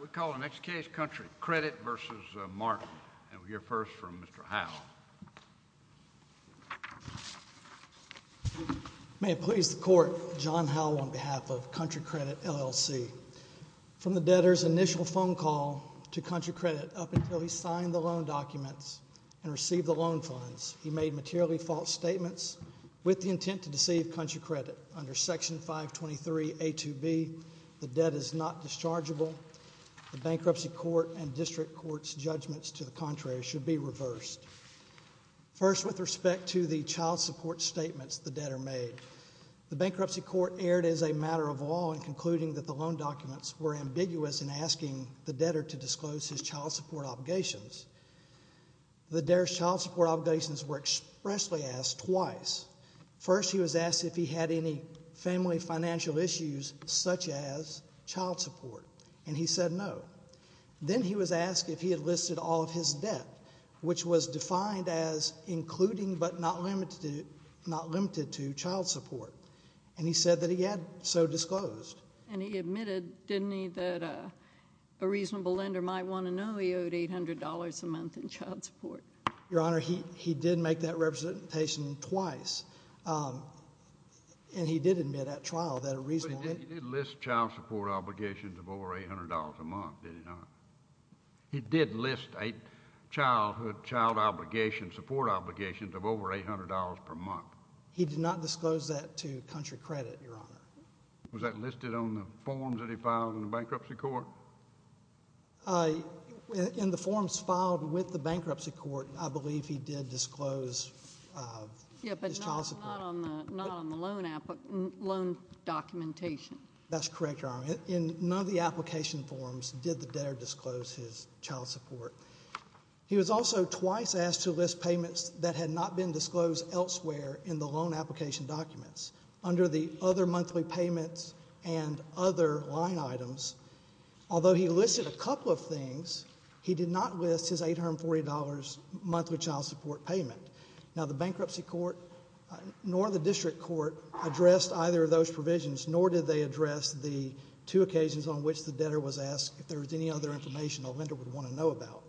We call the next case, Country Credit v. Martin. We'll hear first from Mr. Howell. May it please the Court, John Howell on behalf of Country Credit, L.L.C. From the debtor's initial phone call to Country Credit up until he signed the loan documents and received the loan funds, he made materially false statements with the intent to deceive Country Credit. Under Section 523.A.2.B., the debt is not dischargeable. The Bankruptcy Court and District Court's judgments to the contrary should be reversed. First, with respect to the child support statements the debtor made, the Bankruptcy Court erred as a matter of law in concluding that the loan documents were ambiguous in asking the debtor to disclose his child support obligations. The debtor's child support obligations were expressly asked twice. First, he was asked if he had any family financial issues such as child support, and he said no. Then he was asked if he had listed all of his debt, which was defined as including but not limited to child support, and he said that he had so disclosed. And he admitted, didn't he, that a reasonable lender might want to know he owed $800 a month in child support? Your Honor, he did make that representation twice. And he did admit at trial that a reasonable lender... But he did list child support obligations of over $800 a month, did he not? He did list child obligations, support obligations of over $800 per month. He did not disclose that to Country Credit, Your Honor. Was that listed on the forms that he filed in the Bankruptcy Court? In the forms filed with the Bankruptcy Court, I believe he did disclose his child support. Yeah, but not on the loan documentation. That's correct, Your Honor. In none of the application forms did the debtor disclose his child support. He was also twice asked to list payments that had not been disclosed elsewhere in the loan application documents. Under the other monthly payments and other line items, although he listed a couple of things, he did not list his $840 monthly child support payment. Now, the Bankruptcy Court nor the District Court addressed either of those provisions, nor did they address the two occasions on which the debtor was asked if there was any other information a lender would want to know about.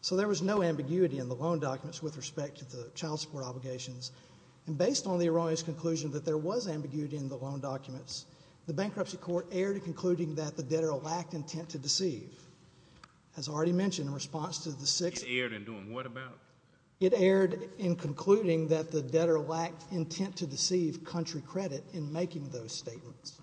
So there was no ambiguity in the loan documents with respect to the child support obligations. And based on the erroneous conclusion that there was ambiguity in the loan documents, the Bankruptcy Court erred in concluding that the debtor lacked intent to deceive. As already mentioned, in response to the six— It erred in doing what about? It erred in concluding that the debtor lacked intent to deceive Country Credit in making those statements.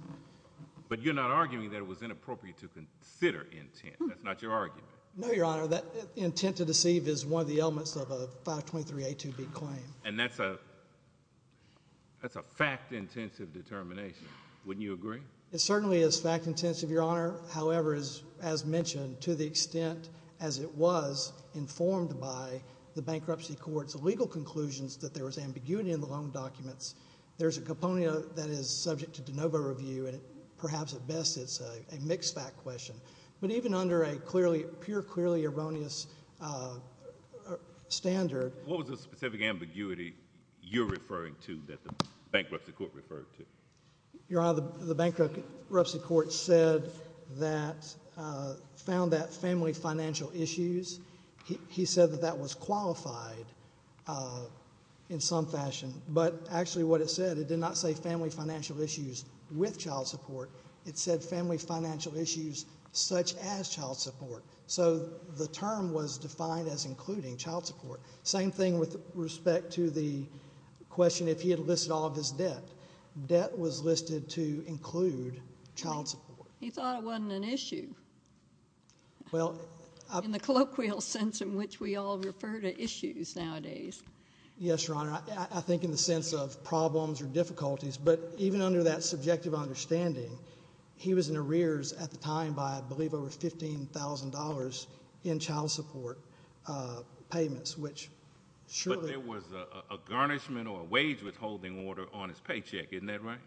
But you're not arguing that it was inappropriate to consider intent. That's not your argument. No, Your Honor. That intent to deceive is one of the elements of a 523A2B claim. And that's a fact-intensive determination. Wouldn't you agree? It certainly is fact-intensive, Your Honor. However, as mentioned, to the extent as it was informed by the Bankruptcy Court's legal conclusions that there was ambiguity in the loan documents, there's a component that is subject to de novo review, and perhaps at best it's a mixed-fact question. But even under a purely erroneous standard— What was the specific ambiguity you're referring to that the Bankruptcy Court referred to? Your Honor, the Bankruptcy Court said that—found that family financial issues, he said that that was qualified in some fashion. But actually what it said, it did not say family financial issues with child support. It said family financial issues such as child support. So the term was defined as including child support. Same thing with respect to the question if he had listed all of his debt. Debt was listed to include child support. He thought it wasn't an issue in the colloquial sense in which we all refer to issues nowadays. Yes, Your Honor. I think in the sense of problems or difficulties. But even under that subjective understanding, he was in arrears at the time by I believe over $15,000 in child support payments, which surely— But there was a garnishment or a wage withholding order on his paycheck, isn't that right?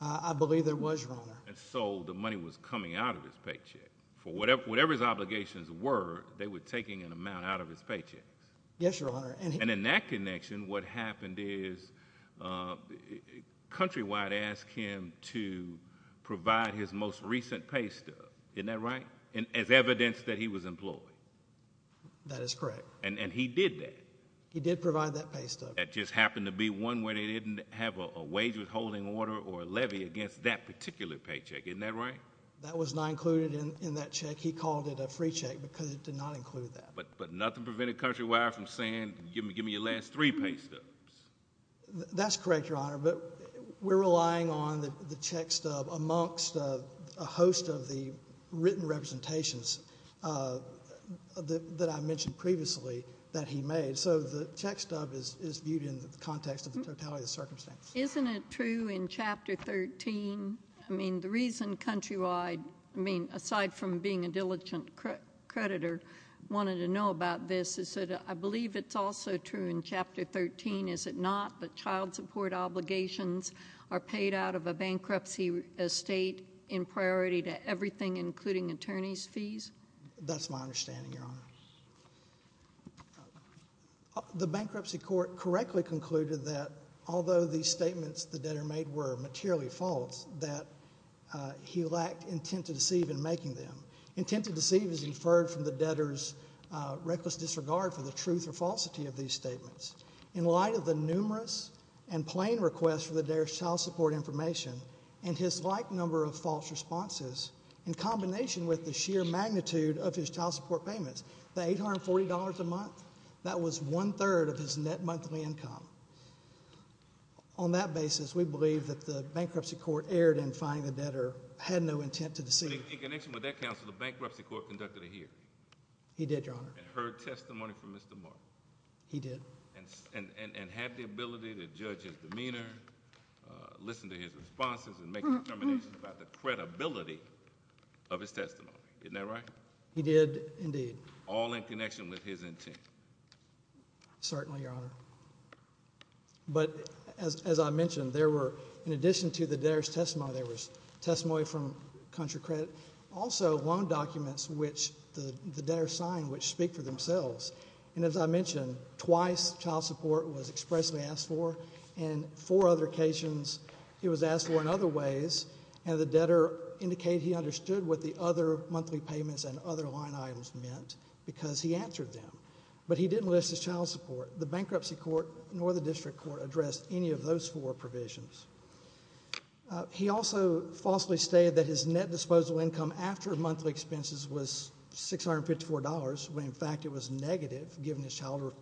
I believe there was, Your Honor. And so the money was coming out of his paycheck. For whatever his obligations were, they were taking an amount out of his paycheck. Yes, Your Honor. And in that connection, what happened is Countrywide asked him to provide his most recent paystub, isn't that right? As evidence that he was employed. That is correct. And he did that. He did provide that paystub. That just happened to be one where they didn't have a wage withholding order or a levy against that particular paycheck, isn't that right? That was not included in that check. He called it a free check because it did not include that. But nothing prevented Countrywide from saying give me your last three paystubs. That's correct, Your Honor. But we're relying on the check stub amongst a host of the written representations that I mentioned previously that he made. So the check stub is viewed in the context of the totality of the circumstance. Isn't it true in Chapter 13? I mean, the reason Countrywide, aside from being a diligent creditor, wanted to know about this is that I believe it's also true in Chapter 13, is it not, that child support obligations are paid out of a bankruptcy estate in priority to everything including attorney's fees? That's my understanding, Your Honor. The bankruptcy court correctly concluded that although these statements the debtor made were materially false, that he lacked intent to deceive in making them. Intent to deceive is inferred from the debtor's reckless disregard for the truth or falsity of these statements. In light of the numerous and plain requests for the debtor's child support information and his like number of false responses in combination with the sheer magnitude of his child support payments, the $840 a month, that was one-third of his net monthly income. On that basis, we believe that the bankruptcy court erred in finding the debtor had no intent to deceive. In connection with that, Counsel, the bankruptcy court conducted a hearing. He did, Your Honor. And heard testimony from Mr. Martin. He did. And had the ability to judge his demeanor, listen to his responses, and make determinations about the credibility of his testimony. Isn't that right? He did, indeed. All in connection with his intent. Certainly, Your Honor. But as I mentioned, there were, in addition to the debtor's testimony, there was testimony from country credit. Also, loan documents which the debtor signed which speak for themselves. And as I mentioned, twice child support was expressly asked for. And four other occasions it was asked for in other ways. And the debtor indicated he understood what the other monthly payments and other line items meant because he answered them. But he didn't list his child support. The bankruptcy court nor the district court addressed any of those four provisions. He also falsely stated that his net disposal income after monthly expenses was $654 when, in fact, it was negative, given his child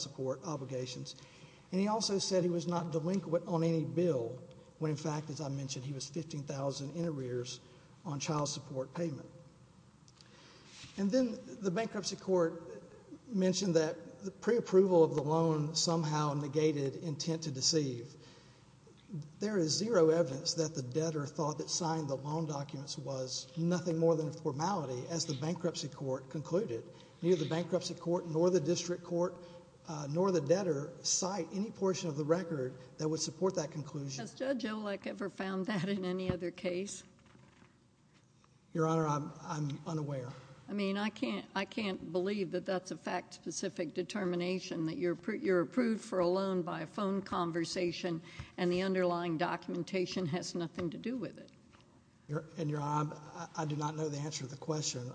support obligations. And he also said he was not delinquent on any bill when, in fact, as I mentioned, he was $15,000 in arrears on child support payment. And then the bankruptcy court mentioned that preapproval of the loan somehow negated intent to deceive. There is zero evidence that the debtor thought that signing the loan documents was nothing more than a formality, as the bankruptcy court concluded. Neither the bankruptcy court nor the district court nor the debtor cite any portion of the record that would support that conclusion. Has Judge Olek ever found that in any other case? Your Honor, I'm unaware. I mean, I can't believe that that's a fact-specific determination, that you're approved for a loan by a phone conversation and the underlying documentation has nothing to do with it. And, Your Honor, I do not know the answer to the question.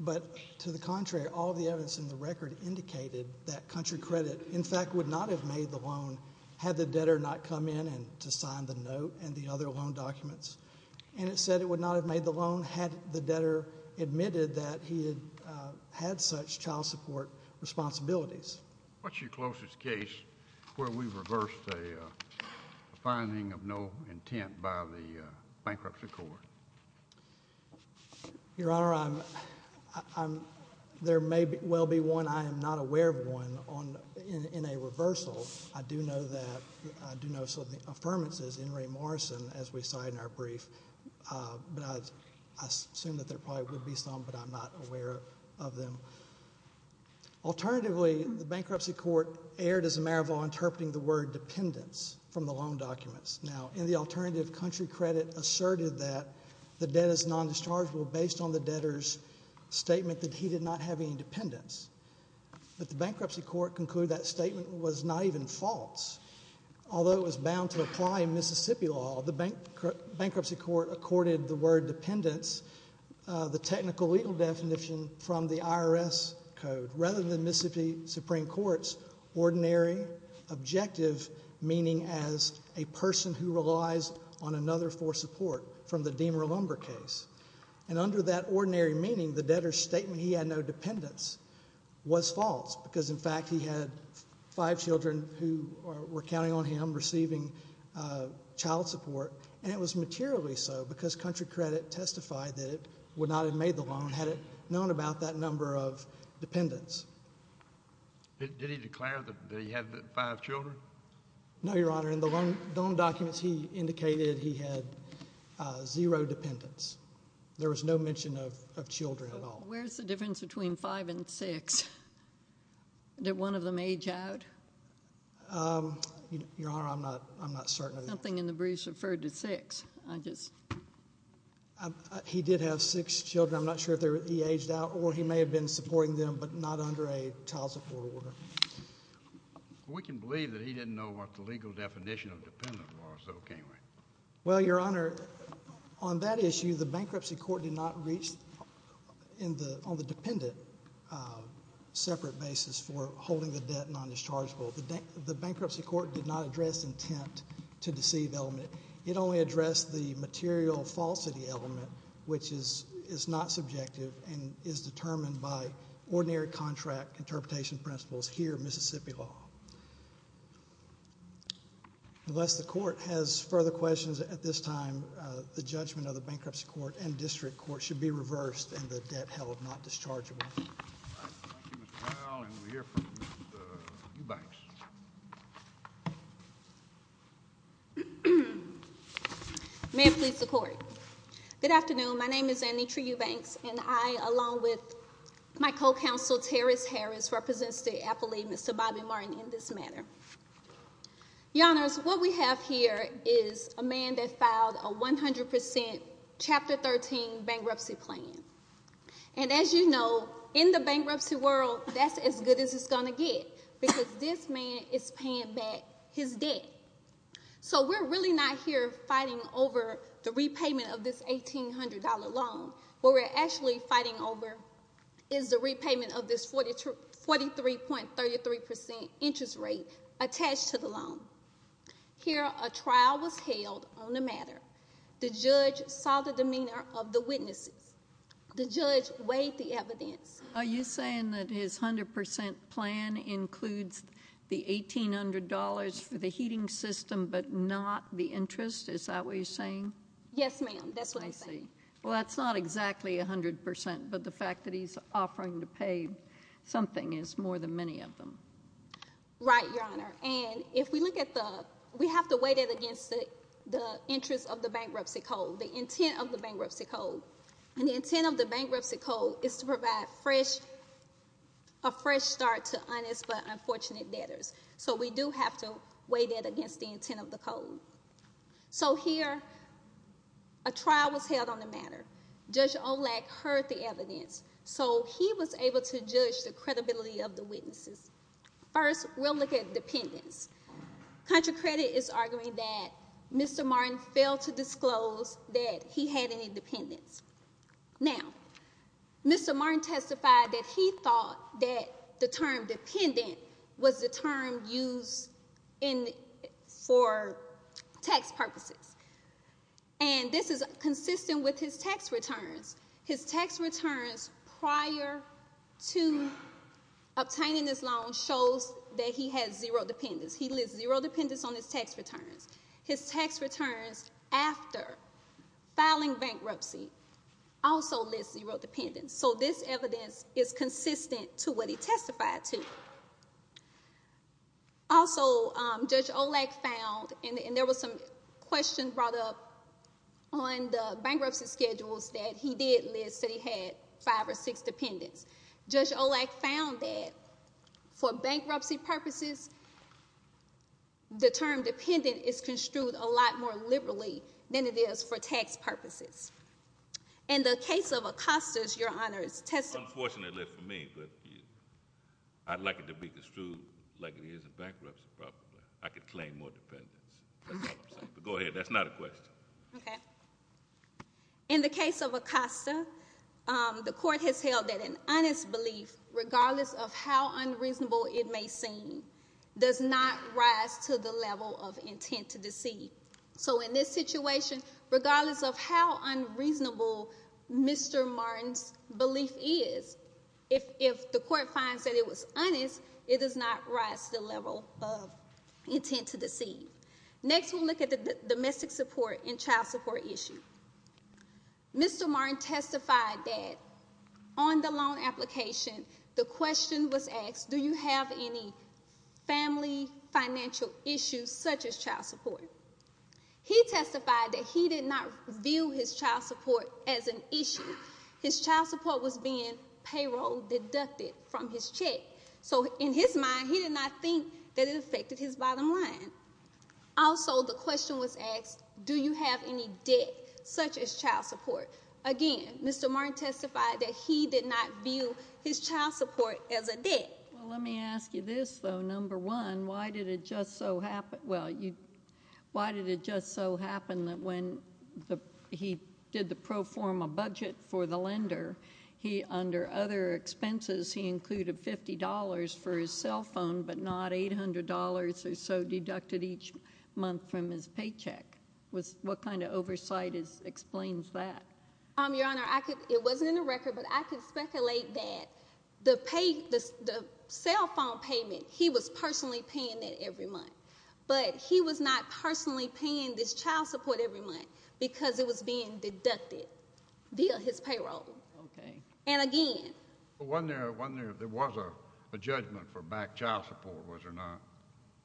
But to the contrary, all the evidence in the record indicated that Country Credit, in fact, would not have made the loan had the debtor not come in to sign the note and the other loan documents. And it said it would not have made the loan had the debtor admitted that he had such child support responsibilities. What's your closest case where we reversed a finding of no intent by the bankruptcy court? Your Honor, there may well be one. I am not aware of one in a reversal. I do know some of the affirmances in Ray Morrison, as we cite in our brief. But I assume that there probably would be some, but I'm not aware of them. Alternatively, the bankruptcy court erred as a marabout interpreting the word dependence from the loan documents. Now, in the alternative, Country Credit asserted that the debt is nondischargeable based on the debtor's statement that he did not have any dependence. But the bankruptcy court concluded that statement was not even false. Although it was bound to apply in Mississippi law, the bankruptcy court accorded the word dependence, the technical legal definition, from the IRS code. Rather than Mississippi Supreme Court's ordinary objective meaning as a person who relies on another for support from the Deemer-Lumber case. And under that ordinary meaning, the debtor's statement he had no dependence was false. Because, in fact, he had five children who were counting on him receiving child support. And it was materially so because Country Credit testified that it would not have made the loan had it known about that number of dependents. Did he declare that he had five children? No, Your Honor. In the loan documents, he indicated he had zero dependents. There was no mention of children at all. Where's the difference between five and six? Did one of them age out? Your Honor, I'm not certain of that. Something in the briefs referred to six. He did have six children. I'm not sure if he aged out or he may have been supporting them but not under a child support order. We can believe that he didn't know what the legal definition of dependent was, though, can't we? Well, Your Honor, on that issue, the bankruptcy court did not reach on the dependent separate basis for holding the debt non-dischargeable. The bankruptcy court did not address intent to deceive element. It only addressed the material falsity element, which is not subjective and is determined by ordinary contract interpretation principles here in Mississippi law. Unless the court has further questions at this time, the judgment of the bankruptcy court and district court should be reversed and the debt held not dischargeable. Thank you, Mr. Powell. And we're here for Ms. Eubanks. May it please the Court. Good afternoon. My name is Anitra Eubanks, and I, along with my co-counsel, Terrace Harris, represents the appellate, Mr. Bobby Martin, in this matter. Your Honors, what we have here is a man that filed a 100% Chapter 13 bankruptcy plan. And as you know, in the bankruptcy world, that's as good as it's going to get because this man is paying back his debt. So we're really not here fighting over the repayment of this $1,800 loan. What we're actually fighting over is the repayment of this 43.33% interest rate attached to the loan. Here, a trial was held on the matter. The judge saw the demeanor of the witnesses. The judge weighed the evidence. Are you saying that his 100% plan includes the $1,800 for the heating system but not the interest? Is that what you're saying? Yes, ma'am. That's what I'm saying. I see. Well, that's not exactly 100%, but the fact that he's offering to pay something is more than many of them. Right, Your Honor. And if we look at the—we have to weigh that against the interest of the bankruptcy code, the intent of the bankruptcy code. And the intent of the bankruptcy code is to provide a fresh start to honest but unfortunate debtors. So we do have to weigh that against the intent of the code. So here, a trial was held on the matter. Judge Olak heard the evidence. So he was able to judge the credibility of the witnesses. First, we'll look at dependents. Country Credit is arguing that Mr. Martin failed to disclose that he had any dependents. Now, Mr. Martin testified that he thought that the term dependent was the term used for tax purposes. And this is consistent with his tax returns. His tax returns prior to obtaining this loan shows that he has zero dependents. He lists zero dependents on his tax returns. His tax returns after filing bankruptcy also list zero dependents. So this evidence is consistent to what he testified to. Also, Judge Olak found—and there was some questions brought up on the bankruptcy schedules that he did list that he had five or six dependents. Judge Olak found that for bankruptcy purposes, the term dependent is construed a lot more liberally than it is for tax purposes. In the case of Acosta's, Your Honors, testimony— If I could be construed like it is in bankruptcy, probably, I could claim more dependents. That's all I'm saying. But go ahead. That's not a question. Okay. In the case of Acosta, the Court has held that an honest belief, regardless of how unreasonable it may seem, does not rise to the level of intent to deceive. So in this situation, regardless of how unreasonable Mr. Martin's belief is, if the Court finds that it was honest, it does not rise to the level of intent to deceive. Next, we'll look at the domestic support and child support issue. Mr. Martin testified that on the loan application, the question was asked, Do you have any family financial issues, such as child support? He testified that he did not view his child support as an issue. His child support was being payroll deducted from his check. So in his mind, he did not think that it affected his bottom line. Also, the question was asked, Do you have any debt, such as child support? Again, Mr. Martin testified that he did not view his child support as a debt. Well, let me ask you this, though. Number one, why did it just so happen that when he did the pro forma budget for the lender, under other expenses, he included $50 for his cell phone, but not $800 or so deducted each month from his paycheck? What kind of oversight explains that? Your Honor, it wasn't in the record, but I can speculate that the cell phone payment, he was personally paying that every month. But he was not personally paying this child support every month because it was being deducted via his payroll. Okay. And again— But wasn't there a judgment for back child support, was there not?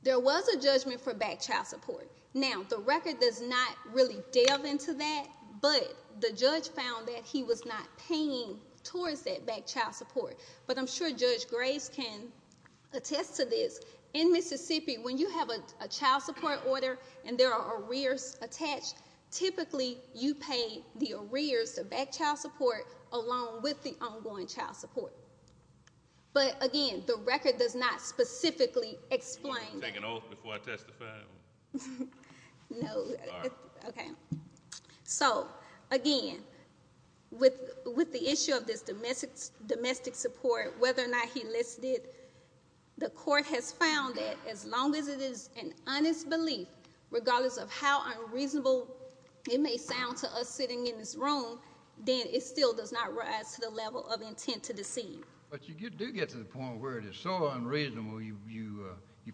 There was a judgment for back child support. Now, the record does not really delve into that, but the judge found that he was not paying towards that back child support. But I'm sure Judge Grace can attest to this. In Mississippi, when you have a child support order and there are arrears attached, typically you pay the arrears, the back child support, along with the ongoing child support. But again, the record does not specifically explain that. Can I take an oath before I testify? No. All right. Okay. So, again, with the issue of this domestic support, whether or not he listed, the court has found that as long as it is an honest belief, regardless of how unreasonable it may sound to us sitting in this room, then it still does not rise to the level of intent to deceive. But you do get to the point where it is so unreasonable you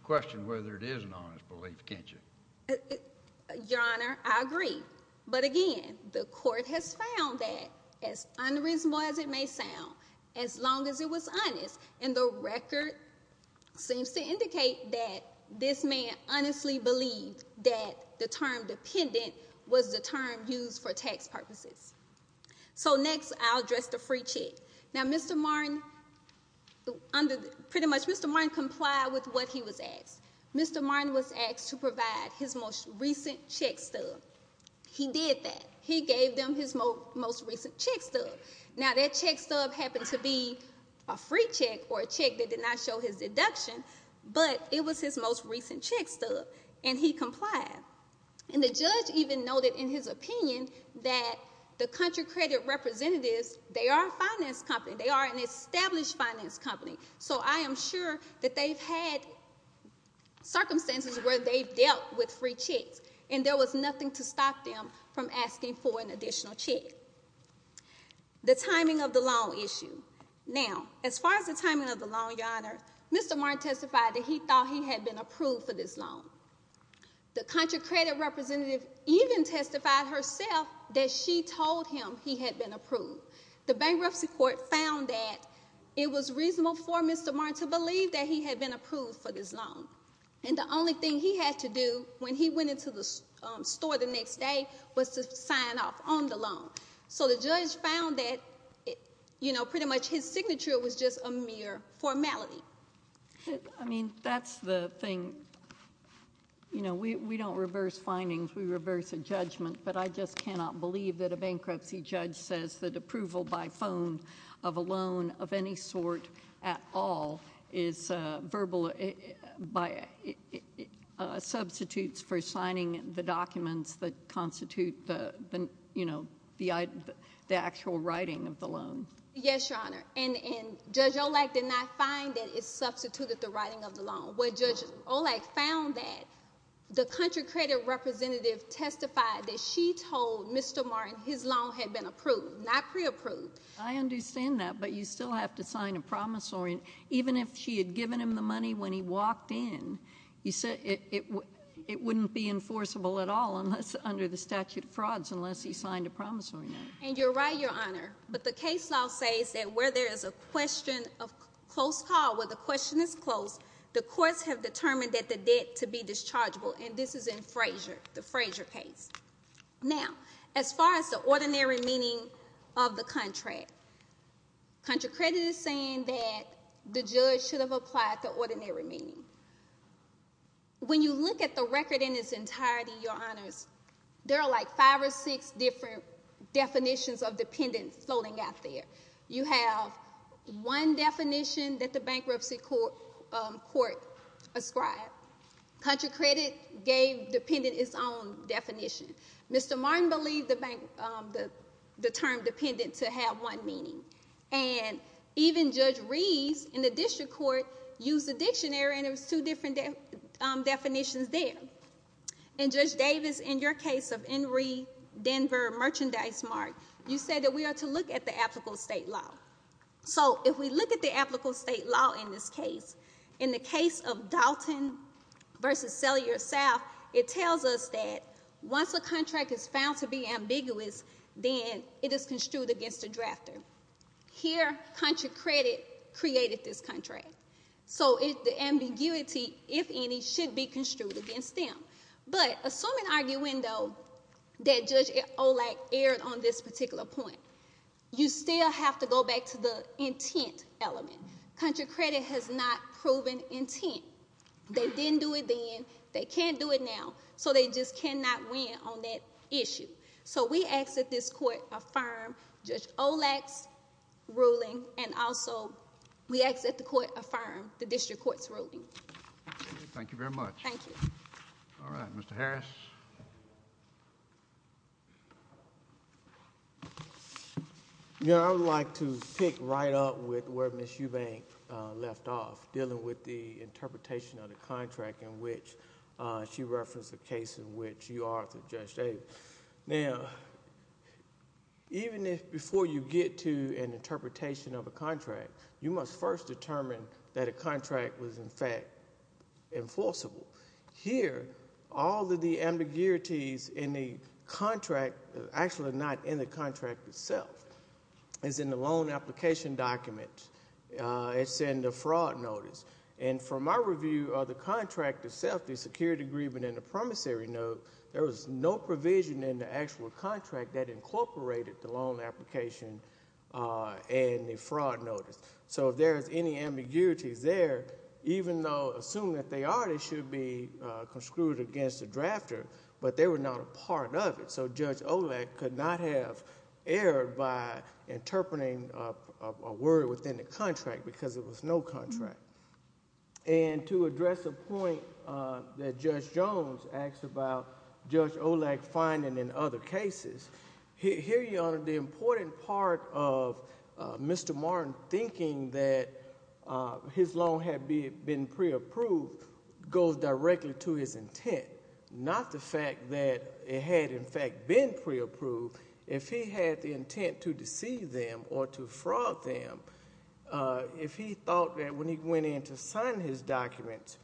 question whether it is an honest belief, can't you? Your Honor, I agree. But, again, the court has found that, as unreasonable as it may sound, as long as it was honest. And the record seems to indicate that this man honestly believed that the term dependent was the term used for tax purposes. So, next, I'll address the free check. Now, Mr. Martin, pretty much, Mr. Martin complied with what he was asked. Mr. Martin was asked to provide his most recent check stub. He did that. He gave them his most recent check stub. Now, that check stub happened to be a free check or a check that did not show his deduction, but it was his most recent check stub, and he complied. And the judge even noted in his opinion that the country credit representatives, they are a finance company. They are an established finance company. So I am sure that they've had circumstances where they've dealt with free checks, and there was nothing to stop them from asking for an additional check. The timing of the loan issue. Now, as far as the timing of the loan, Your Honor, Mr. Martin testified that he thought he had been approved for this loan. The country credit representative even testified herself that she told him he had been approved. The bankruptcy court found that it was reasonable for Mr. Martin to believe that he had been approved for this loan, and the only thing he had to do when he went into the store the next day was to sign off on the loan. So the judge found that, you know, pretty much his signature was just a mere formality. I mean, that's the thing. You know, we don't reverse findings. We reverse a judgment. But I just cannot believe that a bankruptcy judge says that approval by phone of a loan of any sort at all is verbal, substitutes for signing the documents that constitute the actual writing of the loan. Yes, Your Honor. And Judge Olak did not find that it substituted the writing of the loan. When Judge Olak found that, the country credit representative testified that she told Mr. Martin his loan had been approved, not preapproved. I understand that, but you still have to sign a promissory note. Even if she had given him the money when he walked in, it wouldn't be enforceable at all under the statute of frauds unless he signed a promissory note. And you're right, Your Honor. But the case law says that where there is a question of close call, where the question is close, the courts have determined that the debt to be dischargeable. And this is in Frazier, the Frazier case. Now, as far as the ordinary meaning of the contract, country credit is saying that the judge should have applied the ordinary meaning. When you look at the record in its entirety, Your Honors, there are like five or six different definitions of dependent floating out there. You have one definition that the bankruptcy court ascribed. Country credit gave dependent its own definition. Mr. Martin believed the term dependent to have one meaning. And even Judge Reeves in the district court used the dictionary and there was two different definitions there. And Judge Davis, in your case of Henry Denver Merchandise Mart, you said that we are to look at the applicable state law. So if we look at the applicable state law in this case, in the case of Dalton versus Cellular South, it tells us that once a contract is found to be ambiguous, then it is construed against a drafter. Here, country credit created this contract. So the ambiguity, if any, should be construed against them. But assume an arguendo that Judge Olak aired on this particular point. You still have to go back to the intent element. Country credit has not proven intent. They didn't do it then. They can't do it now. So they just cannot win on that issue. So we ask that this court affirm Judge Olak's ruling and also we ask that the court affirm the district court's ruling. Thank you very much. Thank you. All right. Mr. Harris. You know, I would like to pick right up with where Ms. Eubank left off, dealing with the interpretation of the contract in which she referenced the case in which you are the judge stated. Now, even if before you get to an interpretation of a contract, you must first determine that a contract was, in fact, enforceable. Here, all of the ambiguities in the contract, actually not in the contract itself, is in the loan application document. It's in the fraud notice. And from my review of the contract itself, the security agreement and the promissory note, there was no provision in the actual contract that incorporated the loan application and the fraud notice. So if there is any ambiguities there, even though assume that they are, they should be construed against the drafter. But they were not a part of it. So Judge Olak could not have erred by interpreting a word within the contract because there was no contract. And to address a point that Judge Jones asked about Judge Olak finding in other cases, here, Your Honor, the important part of Mr. Martin thinking that his loan had been pre-approved goes directly to his intent, not the fact that it had, in fact, been pre-approved. If he had the intent to deceive them or to fraud them, if he thought that when he went in to sign his documents,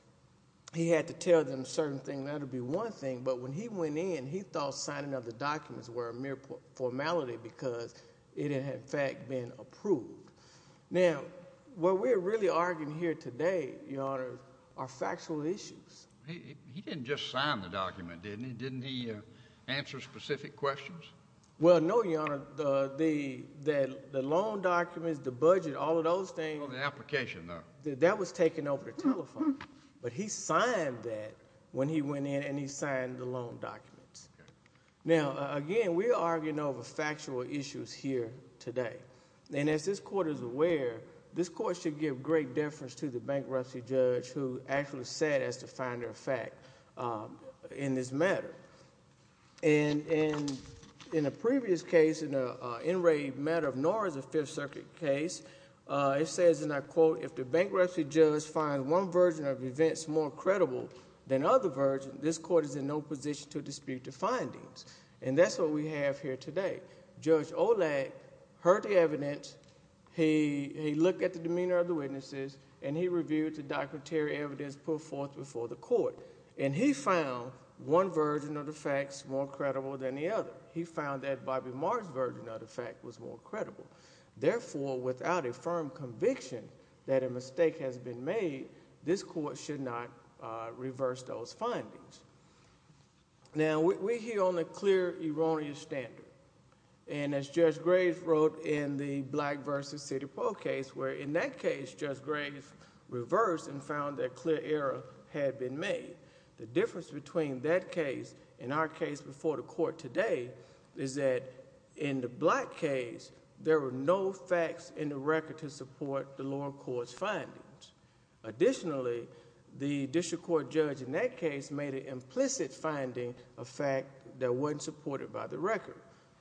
he had to tell them a certain thing, that would be one thing. But when he went in, he thought signing of the documents were a mere formality because it had, in fact, been approved. Now, what we're really arguing here today, Your Honor, are factual issues. He didn't just sign the document, did he? Didn't he answer specific questions? Well, no, Your Honor. The loan documents, the budget, all of those things. Oh, the application, though. That was taken over the telephone. But he signed that when he went in and he signed the loan documents. Now, again, we're arguing over factual issues here today. And as this Court is aware, this Court should give great deference to the bankruptcy judge who actually said as to find their fact in this matter. And in a previous case, in an enraged matter of Norris, a Fifth Circuit case, it says, and I quote, if the bankruptcy judge finds one version of events more credible than other versions, this Court is in no position to dispute the findings. And that's what we have here today. Judge Olak heard the evidence. He looked at the demeanor of the witnesses, and he reviewed the documentary evidence put forth before the Court. And he found one version of the facts more credible than the other. He found that Bobby Marr's version of the fact was more credible. Therefore, without a firm conviction that a mistake has been made, this Court should not reverse those findings. Now, we're here on a clear, erroneous standard. And as Judge Graves wrote in the Black versus City Poll case, where in that case, Judge Graves reversed and found that clear error had been made. The difference between that case and our case before the Court today is that in the Black case, there were no facts in the record to support the lower court's findings. Additionally, the district court judge in that case made an implicit finding of fact that wasn't supported by the record.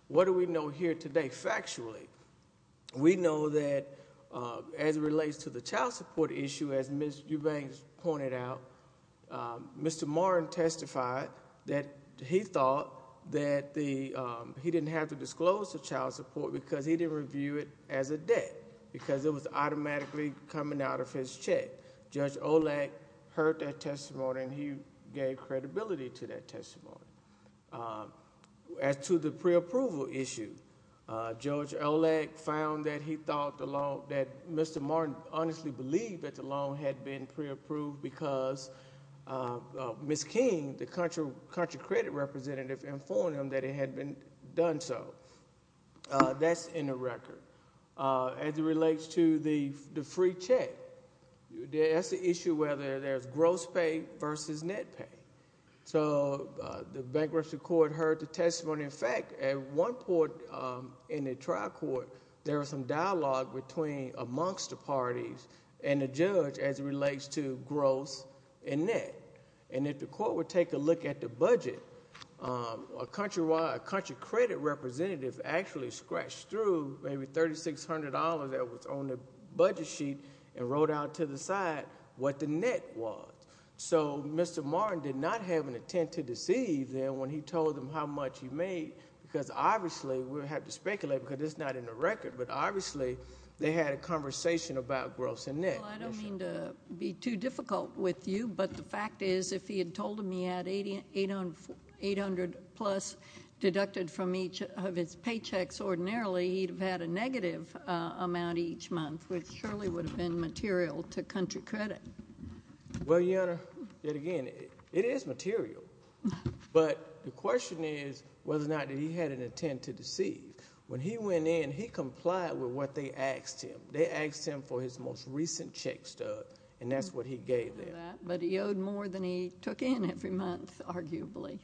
What do we know here today, factually? We know that as it relates to the child support issue, as Ms. Eubanks pointed out, Mr. Marr testified that he thought that he didn't have to disclose the child support because he didn't review it as a debt. Because it was automatically coming out of his check. Judge Olak heard that testimony and he gave credibility to that testimony. As to the preapproval issue, Judge Olak found that he thought the loan, that Mr. Marr honestly believed that the loan had been preapproved because Ms. King, the country credit representative, informed him that it had been done so. That's in the record. As it relates to the free check, that's the issue whether there's gross pay versus net pay. The bankruptcy court heard the testimony. In fact, at one point in the trial court, there was some dialogue amongst the parties and the judge as it relates to gross and net. If the court would take a look at the budget, a country credit representative actually scratched through maybe $3,600 that was on the budget sheet and wrote out to the side what the net was. So Mr. Martin did not have an intent to deceive them when he told them how much he made. Because obviously, we have to speculate because it's not in the record, but obviously they had a conversation about gross and net. Well, I don't mean to be too difficult with you, but the fact is if he had told them he had $800 plus deducted from each of his paychecks ordinarily, he'd have had a negative amount each month, which surely would have been material to country credit. Well, Your Honor, yet again, it is material. But the question is whether or not he had an intent to deceive. When he went in, he complied with what they asked him. They asked him for his most recent check stub, and that's what he gave them. But he owed more than he took in every month, arguably.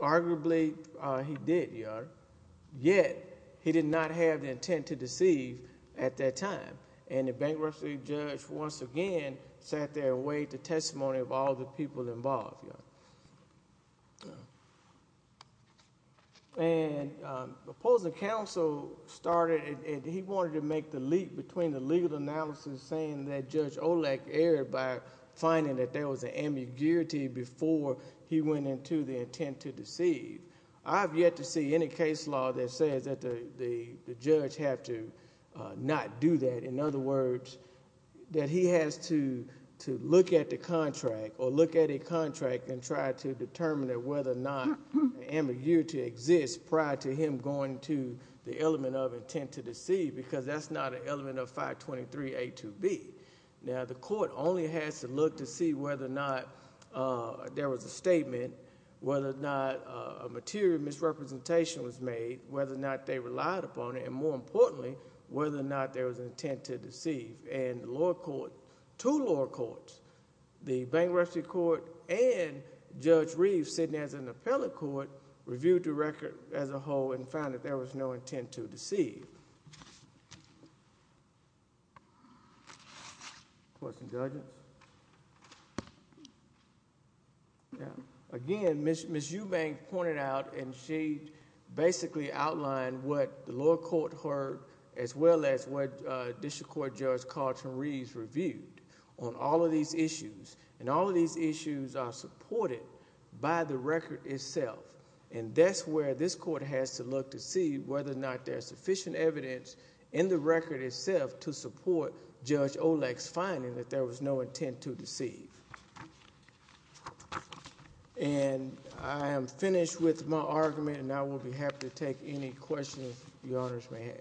Arguably, he did, Your Honor. Yet he did not have the intent to deceive at that time, and the bankruptcy judge once again sat there and waived the testimony of all the people involved, Your Honor. And the opposing counsel started, and he wanted to make the leap between the legal analysis saying that Judge Olak erred by finding that there was an ambiguity before he went into the intent to deceive. I have yet to see any case law that says that the judge have to not do that. In other words, that he has to look at the contract, or look at a contract, and try to determine whether or not the ambiguity exists prior to him going to the element of intent to deceive, because that's not an element of 523A2B. Now, the court only has to look to see whether or not there was a statement, whether or not a material misrepresentation was made, whether or not they relied upon it, and more importantly, whether or not there was an intent to deceive. And the lower court, two lower courts, the bankruptcy court and Judge Reeves, sitting as an appellate court, reviewed the record as a whole and found that there was no intent to deceive. Again, Ms. Eubanks pointed out, and she basically outlined what the lower court heard, as well as what District Court Judge Carlton Reeves reviewed on all of these issues, and all of these issues are supported by the record itself. And that's where this court has to look to see whether or not there's sufficient evidence in the record itself to support Judge Olek's finding that there was no intent to deceive. And I am finished with my argument, and I will be happy to take any questions the Honors may have.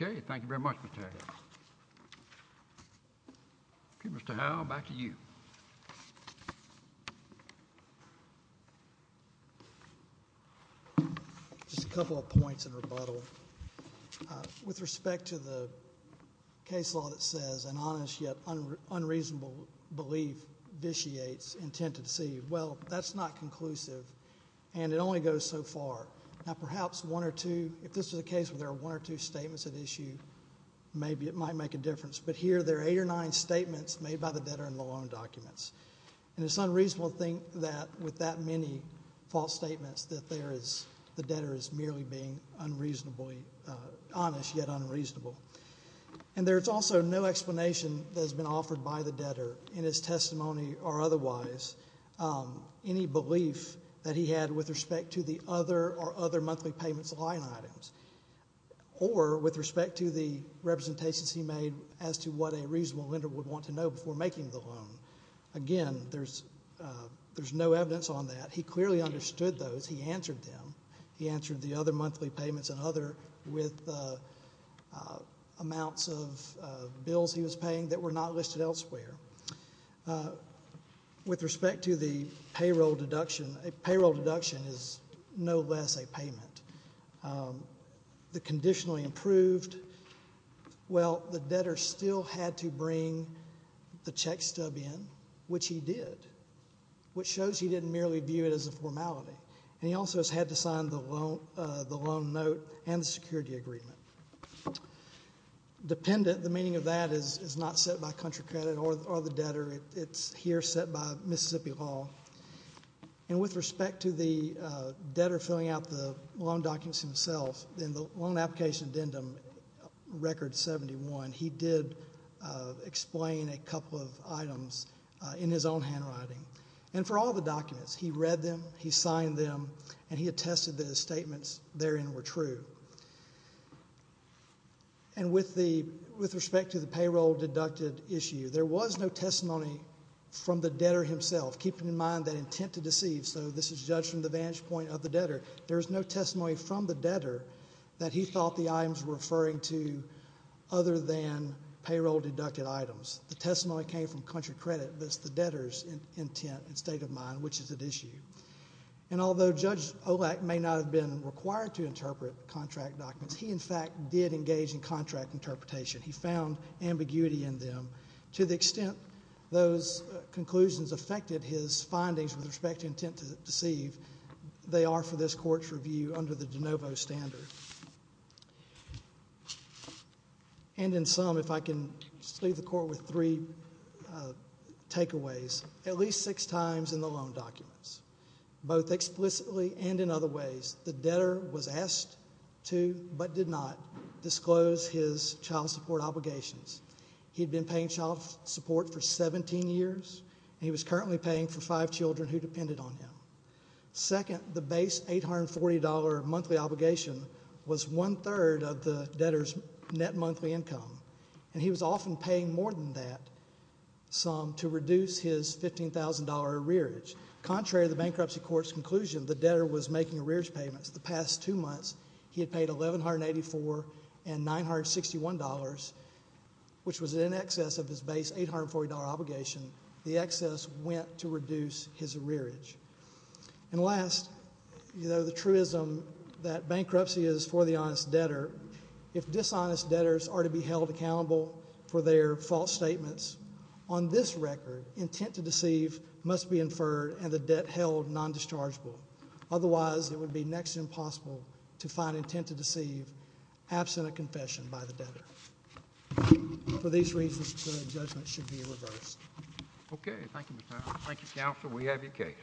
Okay, thank you very much, Mr. Adams. Okay, Mr. Howell, back to you. Thank you. Just a couple of points in rebuttal. With respect to the case law that says an honest yet unreasonable belief vitiates intent to deceive, well, that's not conclusive, and it only goes so far. Now, perhaps one or two, if this was a case where there were one or two statements at issue, maybe it might make a difference. But here there are eight or nine statements made by the debtor in the loan documents, and it's unreasonable to think that with that many false statements that the debtor is merely being honest yet unreasonable. And there's also no explanation that has been offered by the debtor in his testimony or otherwise any belief that he had with respect to the other or other monthly payments line items or with respect to the representations he made as to what a reasonable lender would want to know before making the loan. Again, there's no evidence on that. He clearly understood those. He answered them. He answered the other monthly payments and other with amounts of bills he was paying that were not listed elsewhere. With respect to the payroll deduction, a payroll deduction is no less a payment. The conditionally improved, well, the debtor still had to bring the check stub in, which he did, which shows he didn't merely view it as a formality. And he also has had to sign the loan note and the security agreement. Dependent, the meaning of that is not set by country credit or the debtor. It's here set by Mississippi law. And with respect to the debtor filling out the loan documents himself, in the loan application addendum record 71, he did explain a couple of items in his own handwriting. And for all the documents, he read them, he signed them, and he attested that his statements therein were true. And with respect to the payroll deducted issue, there was no testimony from the debtor himself, keeping in mind that intent to deceive, so this is judged from the vantage point of the debtor. There's no testimony from the debtor that he thought the items were referring to other than payroll deducted items. The testimony came from country credit, but it's the debtor's intent and state of mind which is at issue. And although Judge Olak may not have been required to interpret contract documents, he, in fact, did engage in contract interpretation. He found ambiguity in them. To the extent those conclusions affected his findings with respect to intent to deceive, they are for this Court's review under the de novo standard. And in sum, if I can just leave the Court with three takeaways. At least six times in the loan documents, both explicitly and in other ways, the debtor was asked to but did not disclose his child support obligations. He had been paying child support for 17 years, and he was currently paying for five children who depended on him. Second, the base $840 monthly obligation was one-third of the debtor's net monthly income, and he was often paying more than that sum to reduce his $15,000 arrearage. Contrary to the bankruptcy court's conclusion, the debtor was making arrearage payments. The past two months, he had paid $1,184 and $961, which was in excess of his base $840 obligation. The excess went to reduce his arrearage. And last, the truism that bankruptcy is for the honest debtor, if dishonest debtors are to be held accountable for their false statements, on this record, intent to deceive must be inferred and the debt held non-dischargeable. Otherwise, it would be next to impossible to find intent to deceive absent a confession by the debtor. For these reasons, the judgment should be reversed. Okay. Thank you, Mr. Farrar. Thank you, counsel. We have your case.